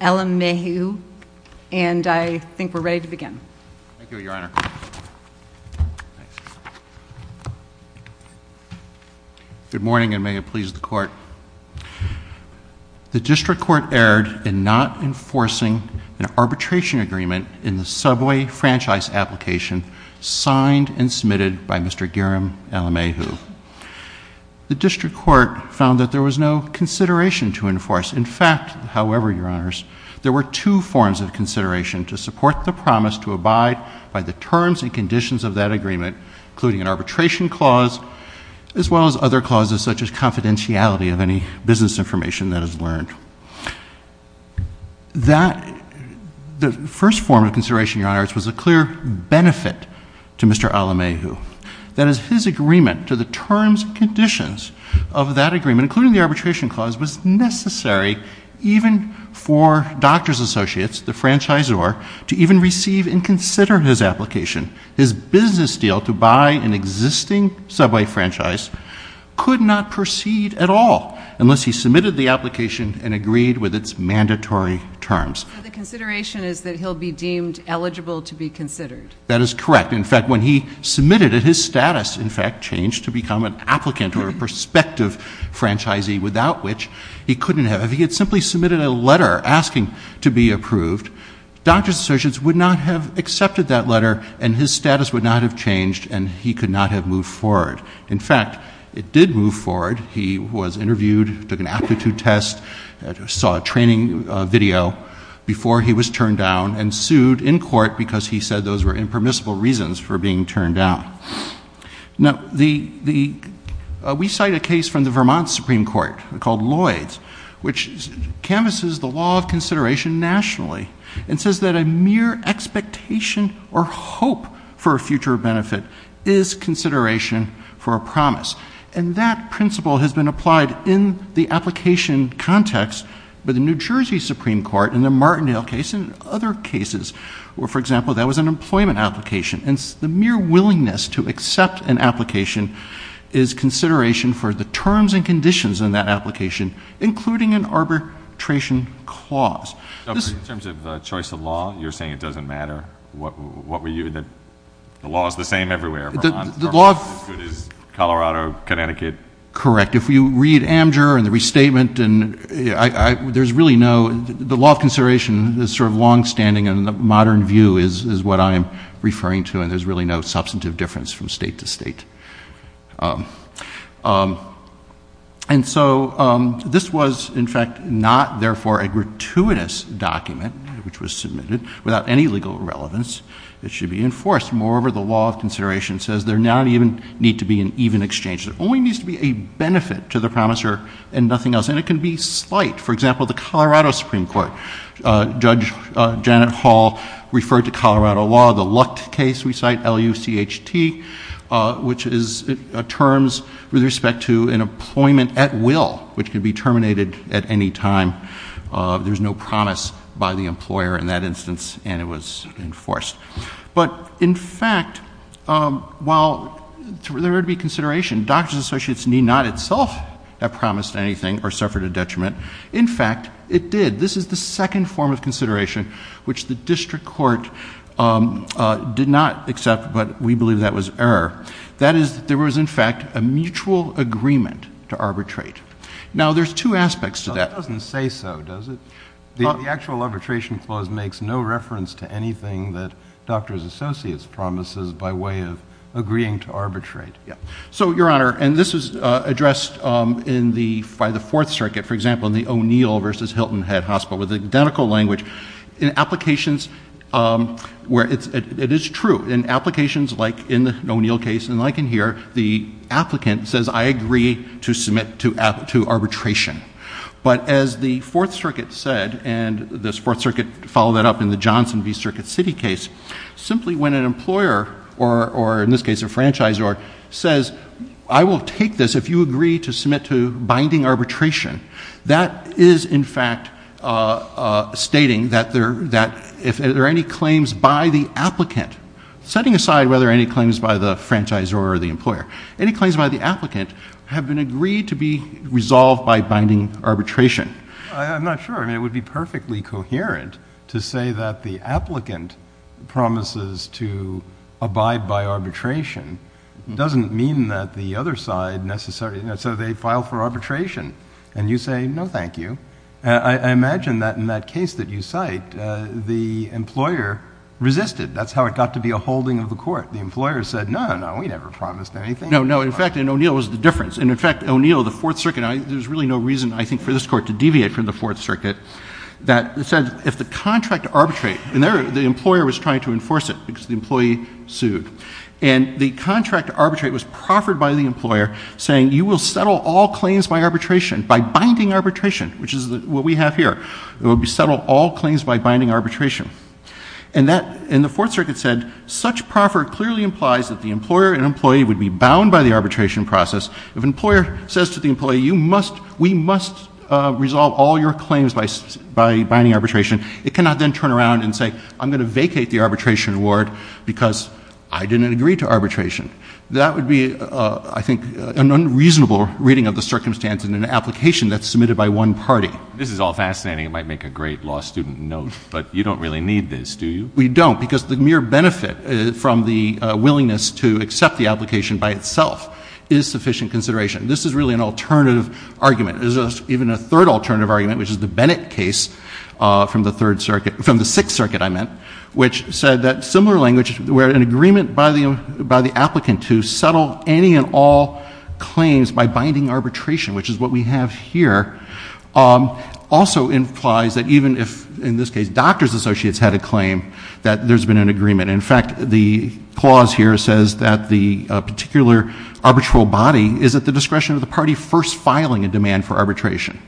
Ellen Mayhew, and I think we're ready to begin. Good morning, and may it please the Court. The District Court erred in not enforcing an arbitration agreement in the subway franchise application signed and submitted by Mr. Garam Ellen Mayhew. The District Court found that there was no consideration to enforce. In fact, however, Your Honors, there were two forms of consideration to support the promise to abide by the terms and conditions of that agreement, including an arbitration clause as well as other clauses such as confidentiality of any business information that is learned. The first form of consideration, Your Honors, was a clear benefit to Mr. Ellen Mayhew. That is, his agreement to the terms and conditions of that agreement, including the arbitration clause, was necessary even for Doctors Associates, the franchisor, to even receive and consider his application. His business deal to buy an existing subway franchise could not proceed at all unless he submitted the application and agreed with its mandatory terms. So the consideration is that he'll be deemed eligible to be considered? That is correct. In fact, when he submitted it, his status, in fact, changed to become an applicant or a prospective franchisee, without which he couldn't have. If he had simply submitted a letter asking to be approved, Doctors Associates would not have accepted that letter, and his status would not have changed, and he could not have moved forward. In fact, it did move forward. He was interviewed, took an aptitude test, saw a training video before he was turned down and sued in court because he said those were impermissible reasons for being turned down. We cite a case from the Vermont Supreme Court called Lloyd's, which canvases the law of expectation or hope for a future benefit is consideration for a promise. And that principle has been applied in the application context by the New Jersey Supreme Court in the Martindale case and other cases where, for example, that was an employment application. And the mere willingness to accept an application is consideration for the terms and conditions in that application, including an arbitration clause. In terms of the choice of law, you're saying it doesn't matter? What were you—the law is the same everywhere, Vermont is as good as Colorado, Connecticut? Correct. If you read Amdur and the restatement, there's really no—the law of consideration is sort of longstanding, and the modern view is what I'm referring to, and there's really no substantive difference from state to state. And so, this was, in fact, not, therefore, a gratuitous document, which was submitted without any legal relevance. It should be enforced. Moreover, the law of consideration says there not even need to be an even exchange. There only needs to be a benefit to the promisor and nothing else, and it can be slight. For example, the Colorado Supreme Court, Judge Janet Hall referred to Colorado law, the Luckt case, we cite L-U-C-H-T, which is terms with respect to an employment at will, which could be terminated at any time. There's no promise by the employer in that instance, and it was enforced. But in fact, while there would be consideration, doctors associates need not itself have promised anything or suffered a detriment. In fact, it did. This is the second form of consideration which the district court did not accept, but we believe that was error. That is, there was, in fact, a mutual agreement to arbitrate. Now, there's two aspects to that. JUSTICE KENNEDY That doesn't say so, does it? The actual arbitration clause makes no reference to anything that doctors associates promises by way of agreeing to arbitrate. MR. SESNO So, Your Honor, and this is addressed by the Hilton Head Hospital with identical language in applications where it is true. In applications like in the O'Neill case, and like in here, the applicant says, I agree to submit to arbitration. But as the Fourth Circuit said, and this Fourth Circuit followed that up in the Johnson v. Circuit City case, simply when an employer, or in this case a franchisor, says, I will in fact, stating that if there are any claims by the applicant, setting aside whether any claims by the franchisor or the employer, any claims by the applicant have been agreed to be resolved by binding arbitration. JUSTICE KENNEDY I'm not sure. I mean, it would be perfectly coherent to say that the applicant promises to abide by arbitration. It doesn't mean that the other side necessarily, so they file for arbitration. And you say, no, thank you. I imagine that in that case that you cite, the employer resisted. That's how it got to be a holding of the Court. The employer said, no, no, we never promised anything. MR. SESNO No, no. In fact, in O'Neill, it was the difference. In fact, O'Neill, the Fourth Circuit, there's really no reason, I think, for this Court to deviate from the Fourth Circuit that said, if the contract to arbitrate, and there the employer was trying to enforce it because the employee sued. And the contract to arbitrate was proffered by the employer saying, you will settle all claims by arbitration, by binding arbitration, which is what we have here. It would be settle all claims by binding arbitration. And that, and the Fourth Circuit said, such proffer clearly implies that the employer and employee would be bound by the arbitration process. If an employer says to the employee, you must, we must resolve all your claims by binding arbitration, it cannot then turn around and say, I'm going to vacate the arbitration award because I didn't agree to arbitration. That would be, I think, an unreasonable reading of the circumstance in an application that's submitted by one party. This is all fascinating. It might make a great law student note, but you don't really need this, do you? We don't, because the mere benefit from the willingness to accept the application by itself is sufficient consideration. This is really an alternative argument. There's even a third alternative argument, which is the Bennett case from the Third Circuit, from the Sixth Circuit, I meant, which said that similar language, where an applicant to settle any and all claims by binding arbitration, which is what we have here, also implies that even if, in this case, doctor's associates had a claim, that there's been an agreement. In fact, the clause here says that the particular arbitral body is at the discretion of the party first filing a demand for arbitration,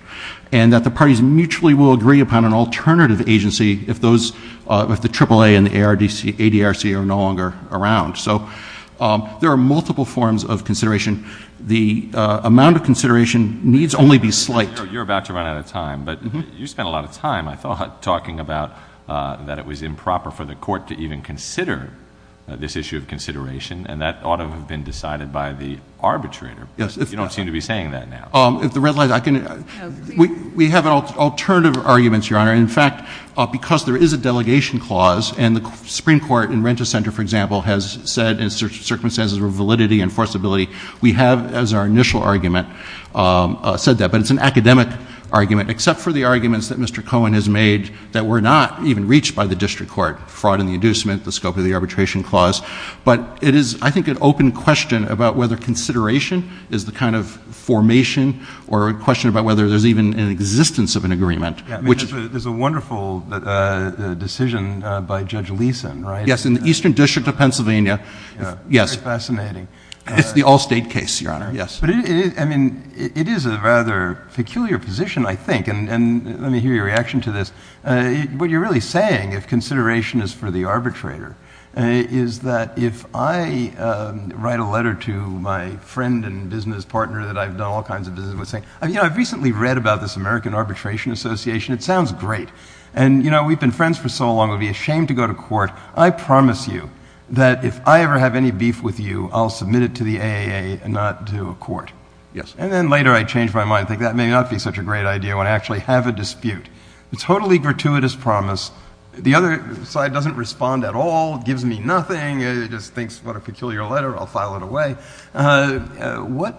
and that the parties mutually will agree upon an alternative agency if those, if the AAA and the ADRC are no longer around. So there are multiple forms of consideration. The amount of consideration needs only be slight. Your Honor, you're about to run out of time, but you spent a lot of time, I thought, talking about that it was improper for the court to even consider this issue of consideration, and that ought to have been decided by the arbitrator. Yes. You don't seem to be saying that now. If the red light, I can, we have alternative arguments, Your Honor, and in fact, because there is a delegation clause, and the Supreme Court in Renta Center, for example, has said in circumstances of validity and forcibility, we have, as our initial argument, said that, but it's an academic argument except for the arguments that Mr. Cohen has made that were not even reached by the district court, fraud in the inducement, the scope of the arbitration clause. But it is, I think, an open question about whether consideration is the kind of formation or a question about whether there's even an existence of an agreement, which There's a wonderful decision by Judge Leeson, right? Yes, in the Eastern District of Pennsylvania. Yes. Fascinating. It's the all-state case, Your Honor. Yes. But it is, I mean, it is a rather peculiar position, I think, and let me hear your reaction to this. What you're really saying, if consideration is for the arbitrator, is that if I write a letter to my friend and business partner that I've done all kinds of business with I mean, I've recently read about this American Arbitration Association. It sounds great. And, you know, we've been friends for so long, it would be a shame to go to court. I promise you that if I ever have any beef with you, I'll submit it to the AAA and not to a court. Yes. And then later I change my mind, think that may not be such a great idea when I actually have a dispute. It's a totally gratuitous promise. The other side doesn't respond at all, gives me nothing, just thinks, what a peculiar letter, I'll file it away. What,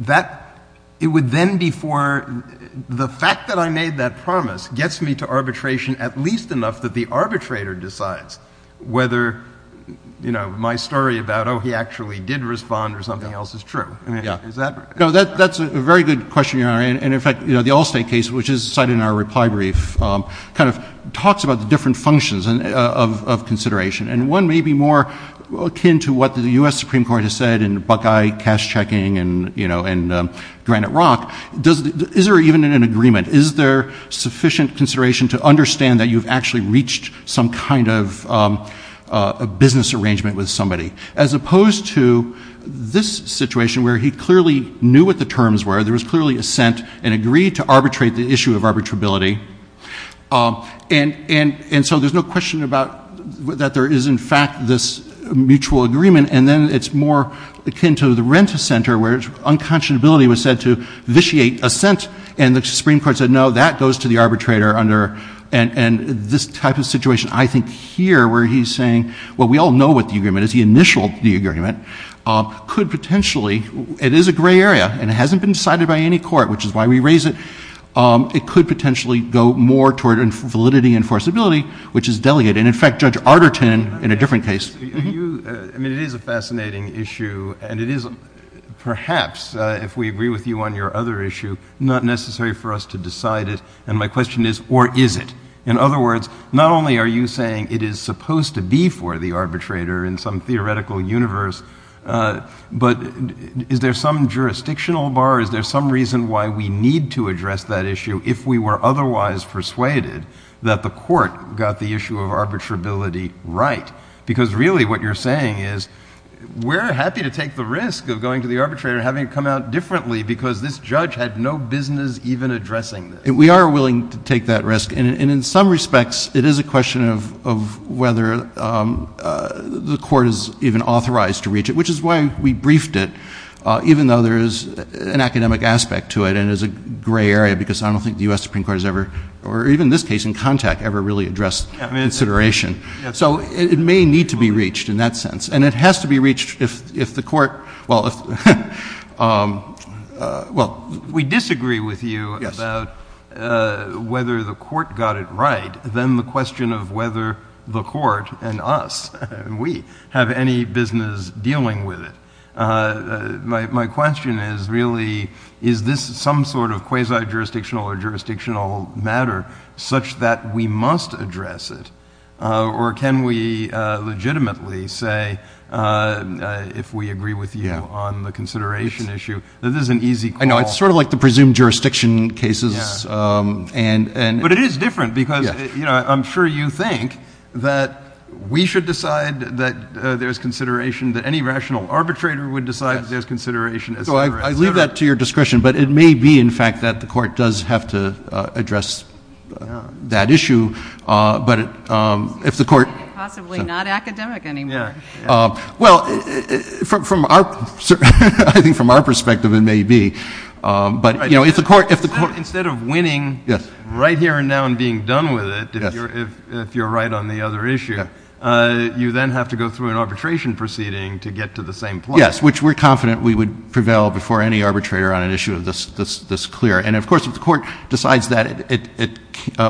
that, it would then be for, the fact that I made that promise gets me to arbitration at least enough that the arbitrator decides whether, you know, my story about, oh, he actually did respond or something else is true. I mean, is that? No, that's a very good question, Your Honor, and in fact, you know, the Allstate case, which is cited in our reply brief, kind of talks about the different functions of consideration. And one may be more akin to what the U.S. Supreme Court has said in Buckeye cash checking and, you know, in Granite Rock, does, is there even an agreement? Is there sufficient consideration to understand that you've actually reached some kind of a business arrangement with somebody? As opposed to this situation where he clearly knew what the terms were, there was clearly assent and agreed to arbitrate the issue of arbitrability, and so there's no question about that there is in fact this mutual agreement, and then it's more akin to the Renta Center where unconscionability was said to vitiate assent, and the Supreme Court said, no, that goes to the arbitrator under, and this type of situation, I think, here where he's saying, well, we all know what the agreement is, the initial agreement, could potentially, it is a gray area, and it hasn't been decided by any court, which is why we raise it, it could potentially go more toward validity and forcibility, which is delicate, and in fact, Judge Arterton, in a different case. I mean, it is a fascinating issue, and it is, perhaps, if we agree with you on your other issue, not necessary for us to decide it, and my question is, or is it? In other words, not only are you saying it is supposed to be for the arbitrator in some theoretical universe, but is there some jurisdictional bar, is there some reason why we need to address that issue if we were otherwise persuaded that the court got the issue of arbitrability right? Because really, what you're saying is, we're happy to take the risk of going to the arbitrator and having it come out differently because this judge had no business even addressing this. We are willing to take that risk, and in some respects, it is a question of whether the court is even authorized to reach it, which is why we briefed it, even though there is an academic aspect to it and is a gray area because I don't think the U.S. Supreme Court has ever, or even this case in contact, ever really addressed consideration. So it may need to be reached in that sense, and it has to be reached if the court, well, we disagree with you about whether the court got it right, then the question of whether the court and us, and we, have any business dealing with it. My question is really, is this some sort of quasi-jurisdictional or jurisdictional matter such that we must address it, or can we legitimately say, if we agree with you on the consideration issue, that this is an easy call? I know, it's sort of like the presumed jurisdiction cases. But it is different because I'm sure you think that we should decide that there's consideration that any rational arbitrator would decide there's consideration, et cetera, et cetera. So I leave that to your discretion, but it may be, in fact, that the court does have to address that issue. But if the court — Possibly not academic anymore. Well, from our — I think from our perspective, it may be. But if the court — Instead of winning right here and now and being done with it, if you're right on the other issue, you then have to go through an arbitration proceeding to get to the same point. Yes, which we're confident we would prevail before any arbitrator on an issue this clear. And of course, if the court decides that it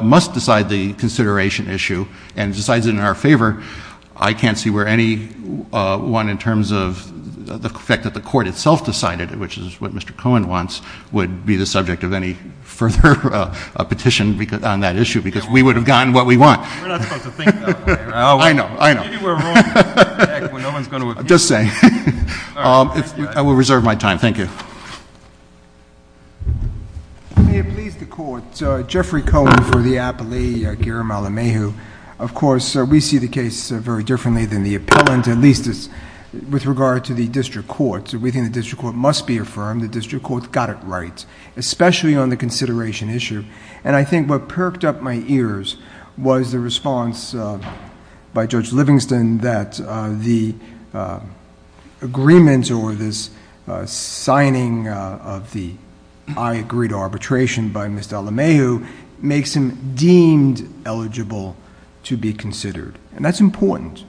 must decide the consideration issue and decides it in our favor, I can't see where anyone, in terms of the fact that the court itself decided, which is what Mr. Cohen wants, would be the subject of any further petition on that issue because we would have gotten what we want. We're not supposed to think that way. I know. I know. Maybe we're wrong. No one's going to — Just saying. All right. I will reserve my time. Thank you. May it please the Court, Jeffrey Cohen for the appellee, Gary Malamehu. Of course, we see the case very differently than the appellant, at least with regard to the district court. We think the district court must be affirmed. The district court got it right, especially on the consideration issue. And I think what perked up my ears was the response by Judge Livingston that the agreement or this signing of the I agree to arbitration by Mr. Malamehu makes him deemed eligible to be considered. And that's important.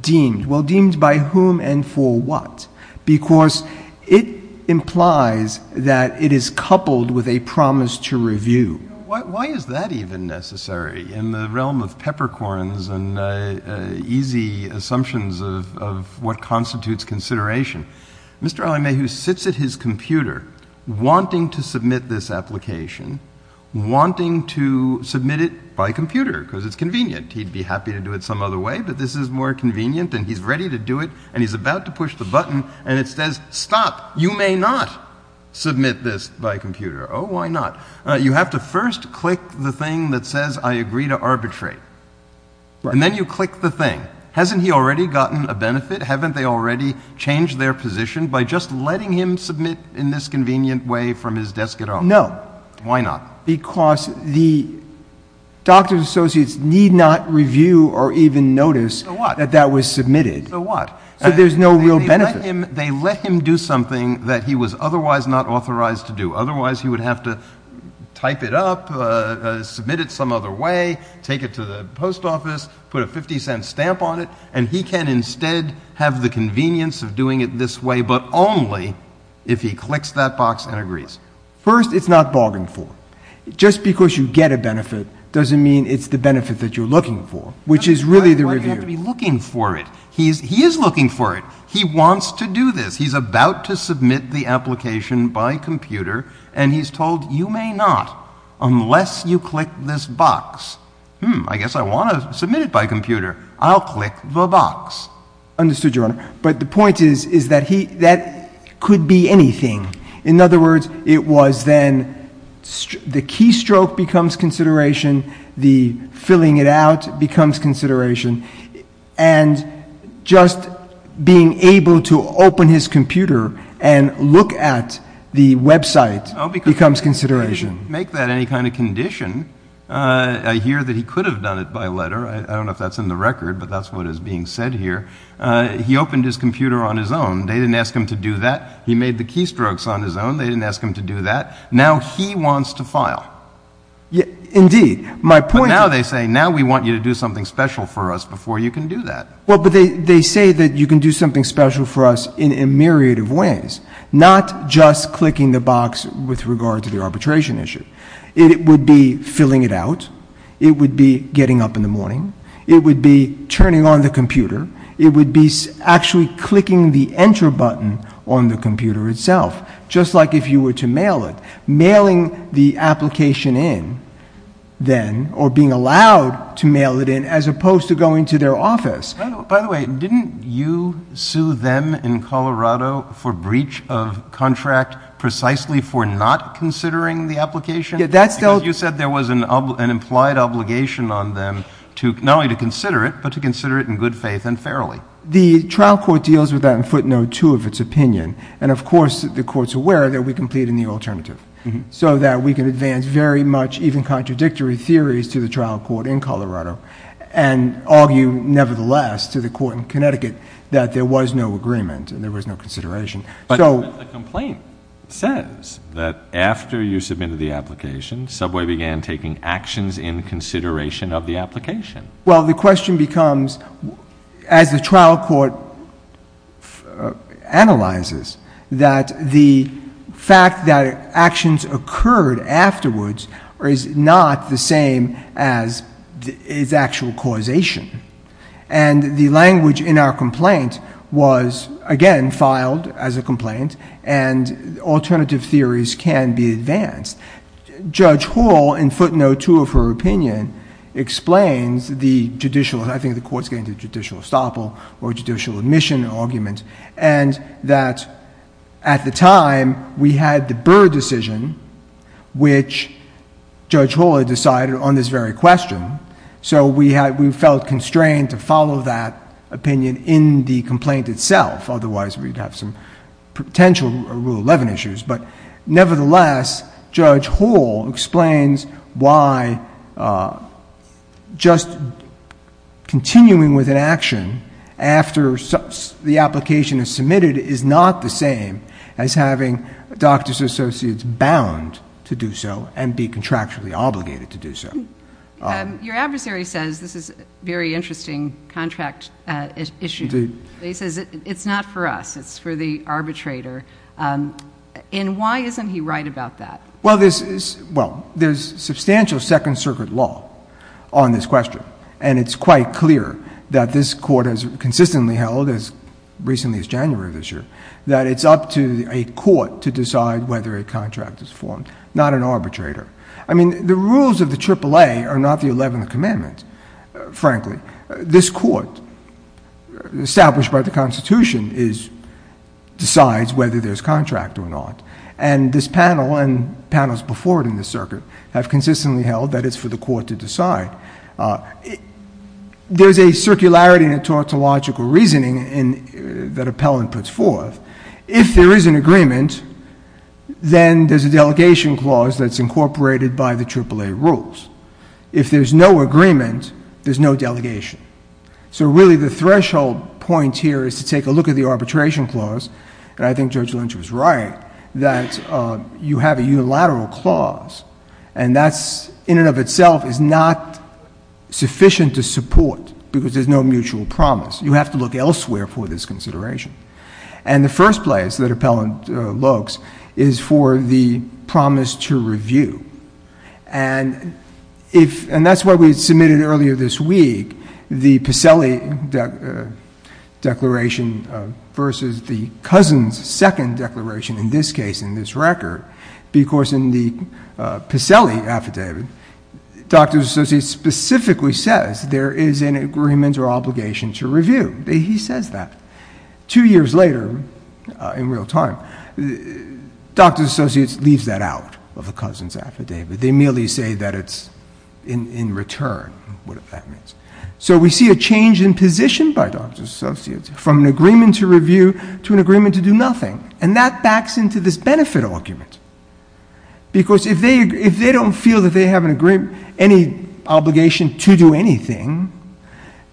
Deemed. Well, deemed by whom and for what? Because it implies that it is coupled with a promise to review. Why is that even necessary in the realm of peppercorns and easy assumptions of what constitutes consideration? Mr. Malamehu sits at his computer wanting to submit this application, wanting to submit it by computer because it's convenient. He'd be happy to do it some other way, but this is more convenient, and he's ready to push the button, and it says, stop. You may not submit this by computer. Oh, why not? You have to first click the thing that says I agree to arbitrate, and then you click the thing. Hasn't he already gotten a benefit? Haven't they already changed their position by just letting him submit in this convenient way from his desk at home? No. Why not? Because the doctors associates need not review or even notice that that was submitted. So what? So there's no real benefit. They let him do something that he was otherwise not authorized to do. Otherwise he would have to type it up, submit it some other way, take it to the post office, put a $0.50 stamp on it, and he can instead have the convenience of doing it this way, but only if he clicks that box and agrees. First it's not bargained for. Just because you get a benefit doesn't mean it's the benefit that you're looking for, which is really the review. Why do you have to be looking for it? He is looking for it. He wants to do this. He's about to submit the application by computer, and he's told you may not unless you click this box. Hmm. I guess I want to submit it by computer. I'll click the box. Understood, Your Honor. But the point is, is that he, that could be anything. In other words, it was then the keystroke becomes consideration. The filling it out becomes consideration. And just being able to open his computer and look at the website becomes consideration. Make that any kind of condition, I hear that he could have done it by letter. I don't know if that's in the record, but that's what is being said here. He opened his computer on his own. They didn't ask him to do that. He made the keystrokes on his own. They didn't ask him to do that. Now he wants to file. Indeed. But now they say, now we want you to do something special for us before you can do that. Well, but they say that you can do something special for us in a myriad of ways. Not just clicking the box with regard to the arbitration issue. It would be filling it out. It would be getting up in the morning. It would be turning on the computer. It would be actually clicking the enter button on the computer itself. Just like if you were to mail it. Mailing the application in, then, or being allowed to mail it in, as opposed to going to their office. By the way, didn't you sue them in Colorado for breach of contract precisely for not considering the application? Yeah, that's still. You said there was an implied obligation on them to, not only to consider it, but to consider it in good faith and fairly. The trial court deals with that in footnote two of its opinion. And of course, the court's aware that we completed the alternative. So that we can advance very much even contradictory theories to the trial court in Colorado and argue, nevertheless, to the court in Connecticut that there was no agreement and there was no consideration. But the complaint says that after you submitted the application, Subway began taking actions in consideration of the application. Well, the question becomes, as the trial court analyzes, that the fact that actions occurred afterwards is not the same as its actual causation. And the language in our complaint was, again, filed as a complaint. And alternative theories can be advanced. Judge Hall, in footnote two of her opinion, explains the judicial, I think the court's getting to the judicial estoppel or judicial admission argument, and that at the time, we had the Burr decision, which Judge Hall had decided on this very question. So we felt constrained to follow that opinion in the complaint itself. Otherwise, we'd have some potential Rule 11 issues. But nevertheless, Judge Hall explains why just continuing with an action after the application is submitted is not the same as having doctors associates bound to do so and be contractually obligated to do so. Your adversary says this is a very interesting contract issue. He says it's not for us. It's for the arbitrator. And why isn't he right about that? Well, there's substantial Second Circuit law on this question. And it's quite clear that this court has consistently held, as recently as January of this year, that it's up to a court to decide whether a contract is formed, not an arbitrator. I mean, the rules of the AAA are not the 11th Commandment, frankly. This court, established by the Constitution, decides whether there's contract or not. And this panel, and panels before it in the Circuit, have consistently held that it's for the court to decide. There's a circularity and a tautological reasoning that Appellant puts forth. If there is an agreement, then there's a delegation clause that's incorporated by the AAA rules. If there's no agreement, there's no delegation. So really, the threshold point here is to take a look at the arbitration clause, and I think Judge Lynch was right, that you have a unilateral clause. And that's, in and of itself, is not sufficient to support, because there's no mutual promise. You have to look elsewhere for this consideration. And the first place that Appellant looks is for the promise to review. And if, and that's why we submitted earlier this week, the Pacelli declaration versus the Cousin's second declaration, in this case, in this record. Because in the Pacelli affidavit, Dr. Associates specifically says, there is an agreement or obligation to review. He says that. Two years later, in real time, Dr. Associates leaves that out of the Cousin's affidavit. They merely say that it's in return, whatever that means. So we see a change in position by Dr. Associates, from an agreement to review to an agreement to do nothing. And that backs into this benefit argument. Because if they don't feel that they have any obligation to do anything,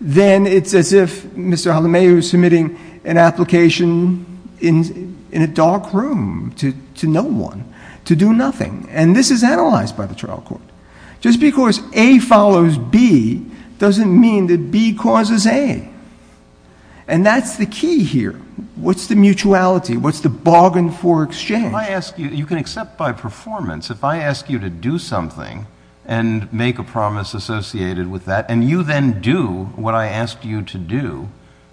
then it's as if Mr. Halameu is submitting an application in a dark room to no one to do nothing. And this is analyzed by the trial court. Just because A follows B doesn't mean that B causes A. And that's the key here. What's the mutuality? What's the bargain for exchange? If I ask you, you can accept by performance, if I ask you to do something and make a promise associated with that, and you then do what I asked you to do,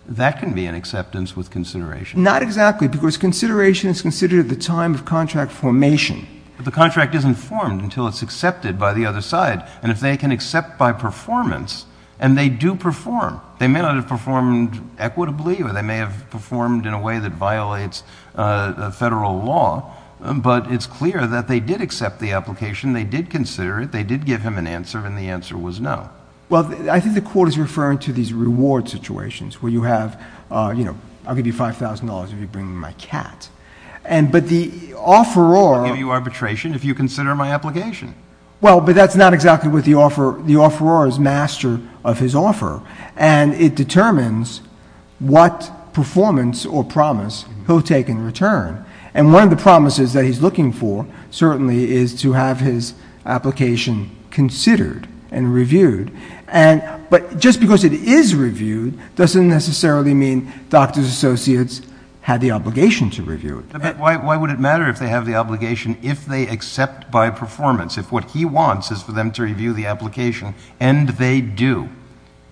that can be an acceptance with consideration. Not exactly, because consideration is considered at the time of contract formation. But the contract isn't formed until it's accepted by the other side. And if they can accept by performance, and they do perform, they may not have performed equitably, or they may have performed in a way that violates federal law. But it's clear that they did accept the application. They did consider it. They did give him an answer. And the answer was no. Well, I think the court is referring to these reward situations, where you have, I'll give you $5,000 if you bring me my cat. But the offeror- I'll give you arbitration if you consider my application. Well, but that's not exactly what the offeror is master of his offer. And it determines what performance or promise he'll take in return. And one of the promises that he's looking for, certainly, is to have his application considered and reviewed. But just because it is reviewed doesn't necessarily mean doctor's associates had the obligation to review it. But why would it matter if they have the obligation if they accept by performance? If what he wants is for them to review the application, and they do.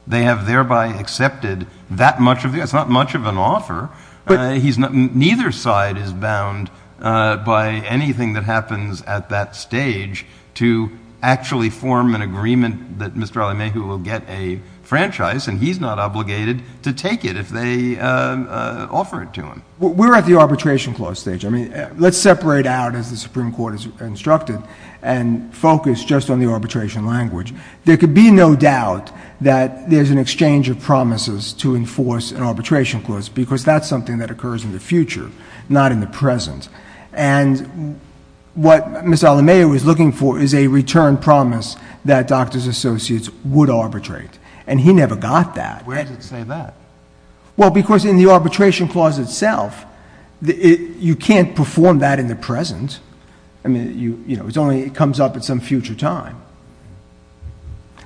They have thereby accepted that much of it. It's not much of an offer. Neither side is bound by anything that happens at that stage to actually form an agreement that Mr. Alameyhu will get a franchise, and he's not obligated to take it if they offer it to him. We're at the arbitration clause stage. I mean, let's separate out, as the Supreme Court has instructed, and focus just on the arbitration language. There could be no doubt that there's an exchange of promises to enforce an arbitration clause, because that's something that occurs in the future, not in the present. And what Mr. Alameyhu is looking for is a return promise that doctor's associates would arbitrate. And he never got that. Where does it say that? Well, because in the arbitration clause itself, you can't perform that in the present. I mean, you know, it only comes up at some future time.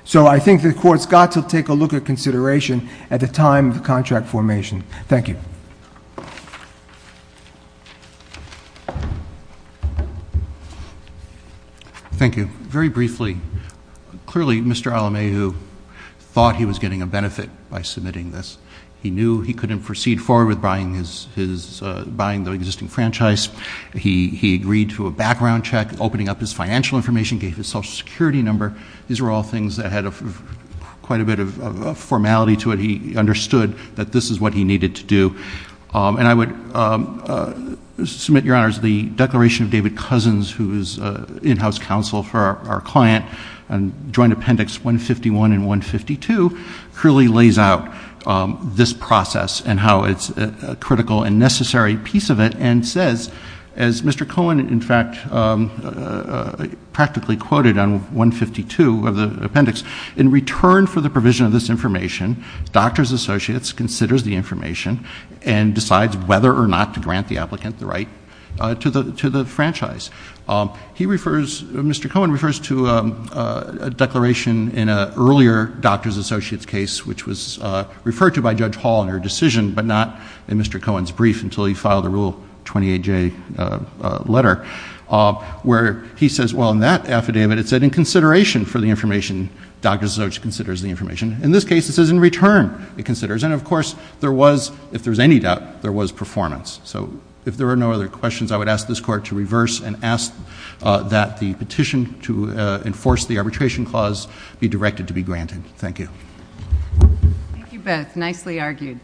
So I think the Court's got to take a look at consideration at the time of the contract formation. Thank you. Thank you. Very briefly, clearly, Mr. Alameyhu thought he was getting a benefit by submitting this. He knew he couldn't proceed forward with buying the existing franchise. He agreed to a background check, opening up his financial information, gave his Social Security number. These were all things that had quite a bit of formality to it. He understood that this is what he needed to do. And I would submit your honor that I think the Declaration of David Cousins, who is in-house counsel for our client, Joint Appendix 151 and 152, clearly lays out this process and how it's a critical and necessary piece of it and says, as Mr. Cohen, in fact, practically quoted on 152 of the appendix, in return for the provision of this information, doctor's associates considers the information and decides whether or not to grant the applicant the right to the franchise. Mr. Cohen refers to a declaration in an earlier doctor's associates case which was referred to by Judge Hall in her decision, but not in Mr. Cohen's brief until he filed a Rule 28J letter, where he says, well, in that affidavit, it said, in consideration for the information, doctor's associates considers the information. In this case, it says in return it considers. And, of course, there was, if there's any doubt, there was performance. So if there are no other questions, I would ask this Court to reverse and ask that the petition to enforce the arbitration clause be directed to be granted. Thank you. Thank you, Beth. Nicely argued.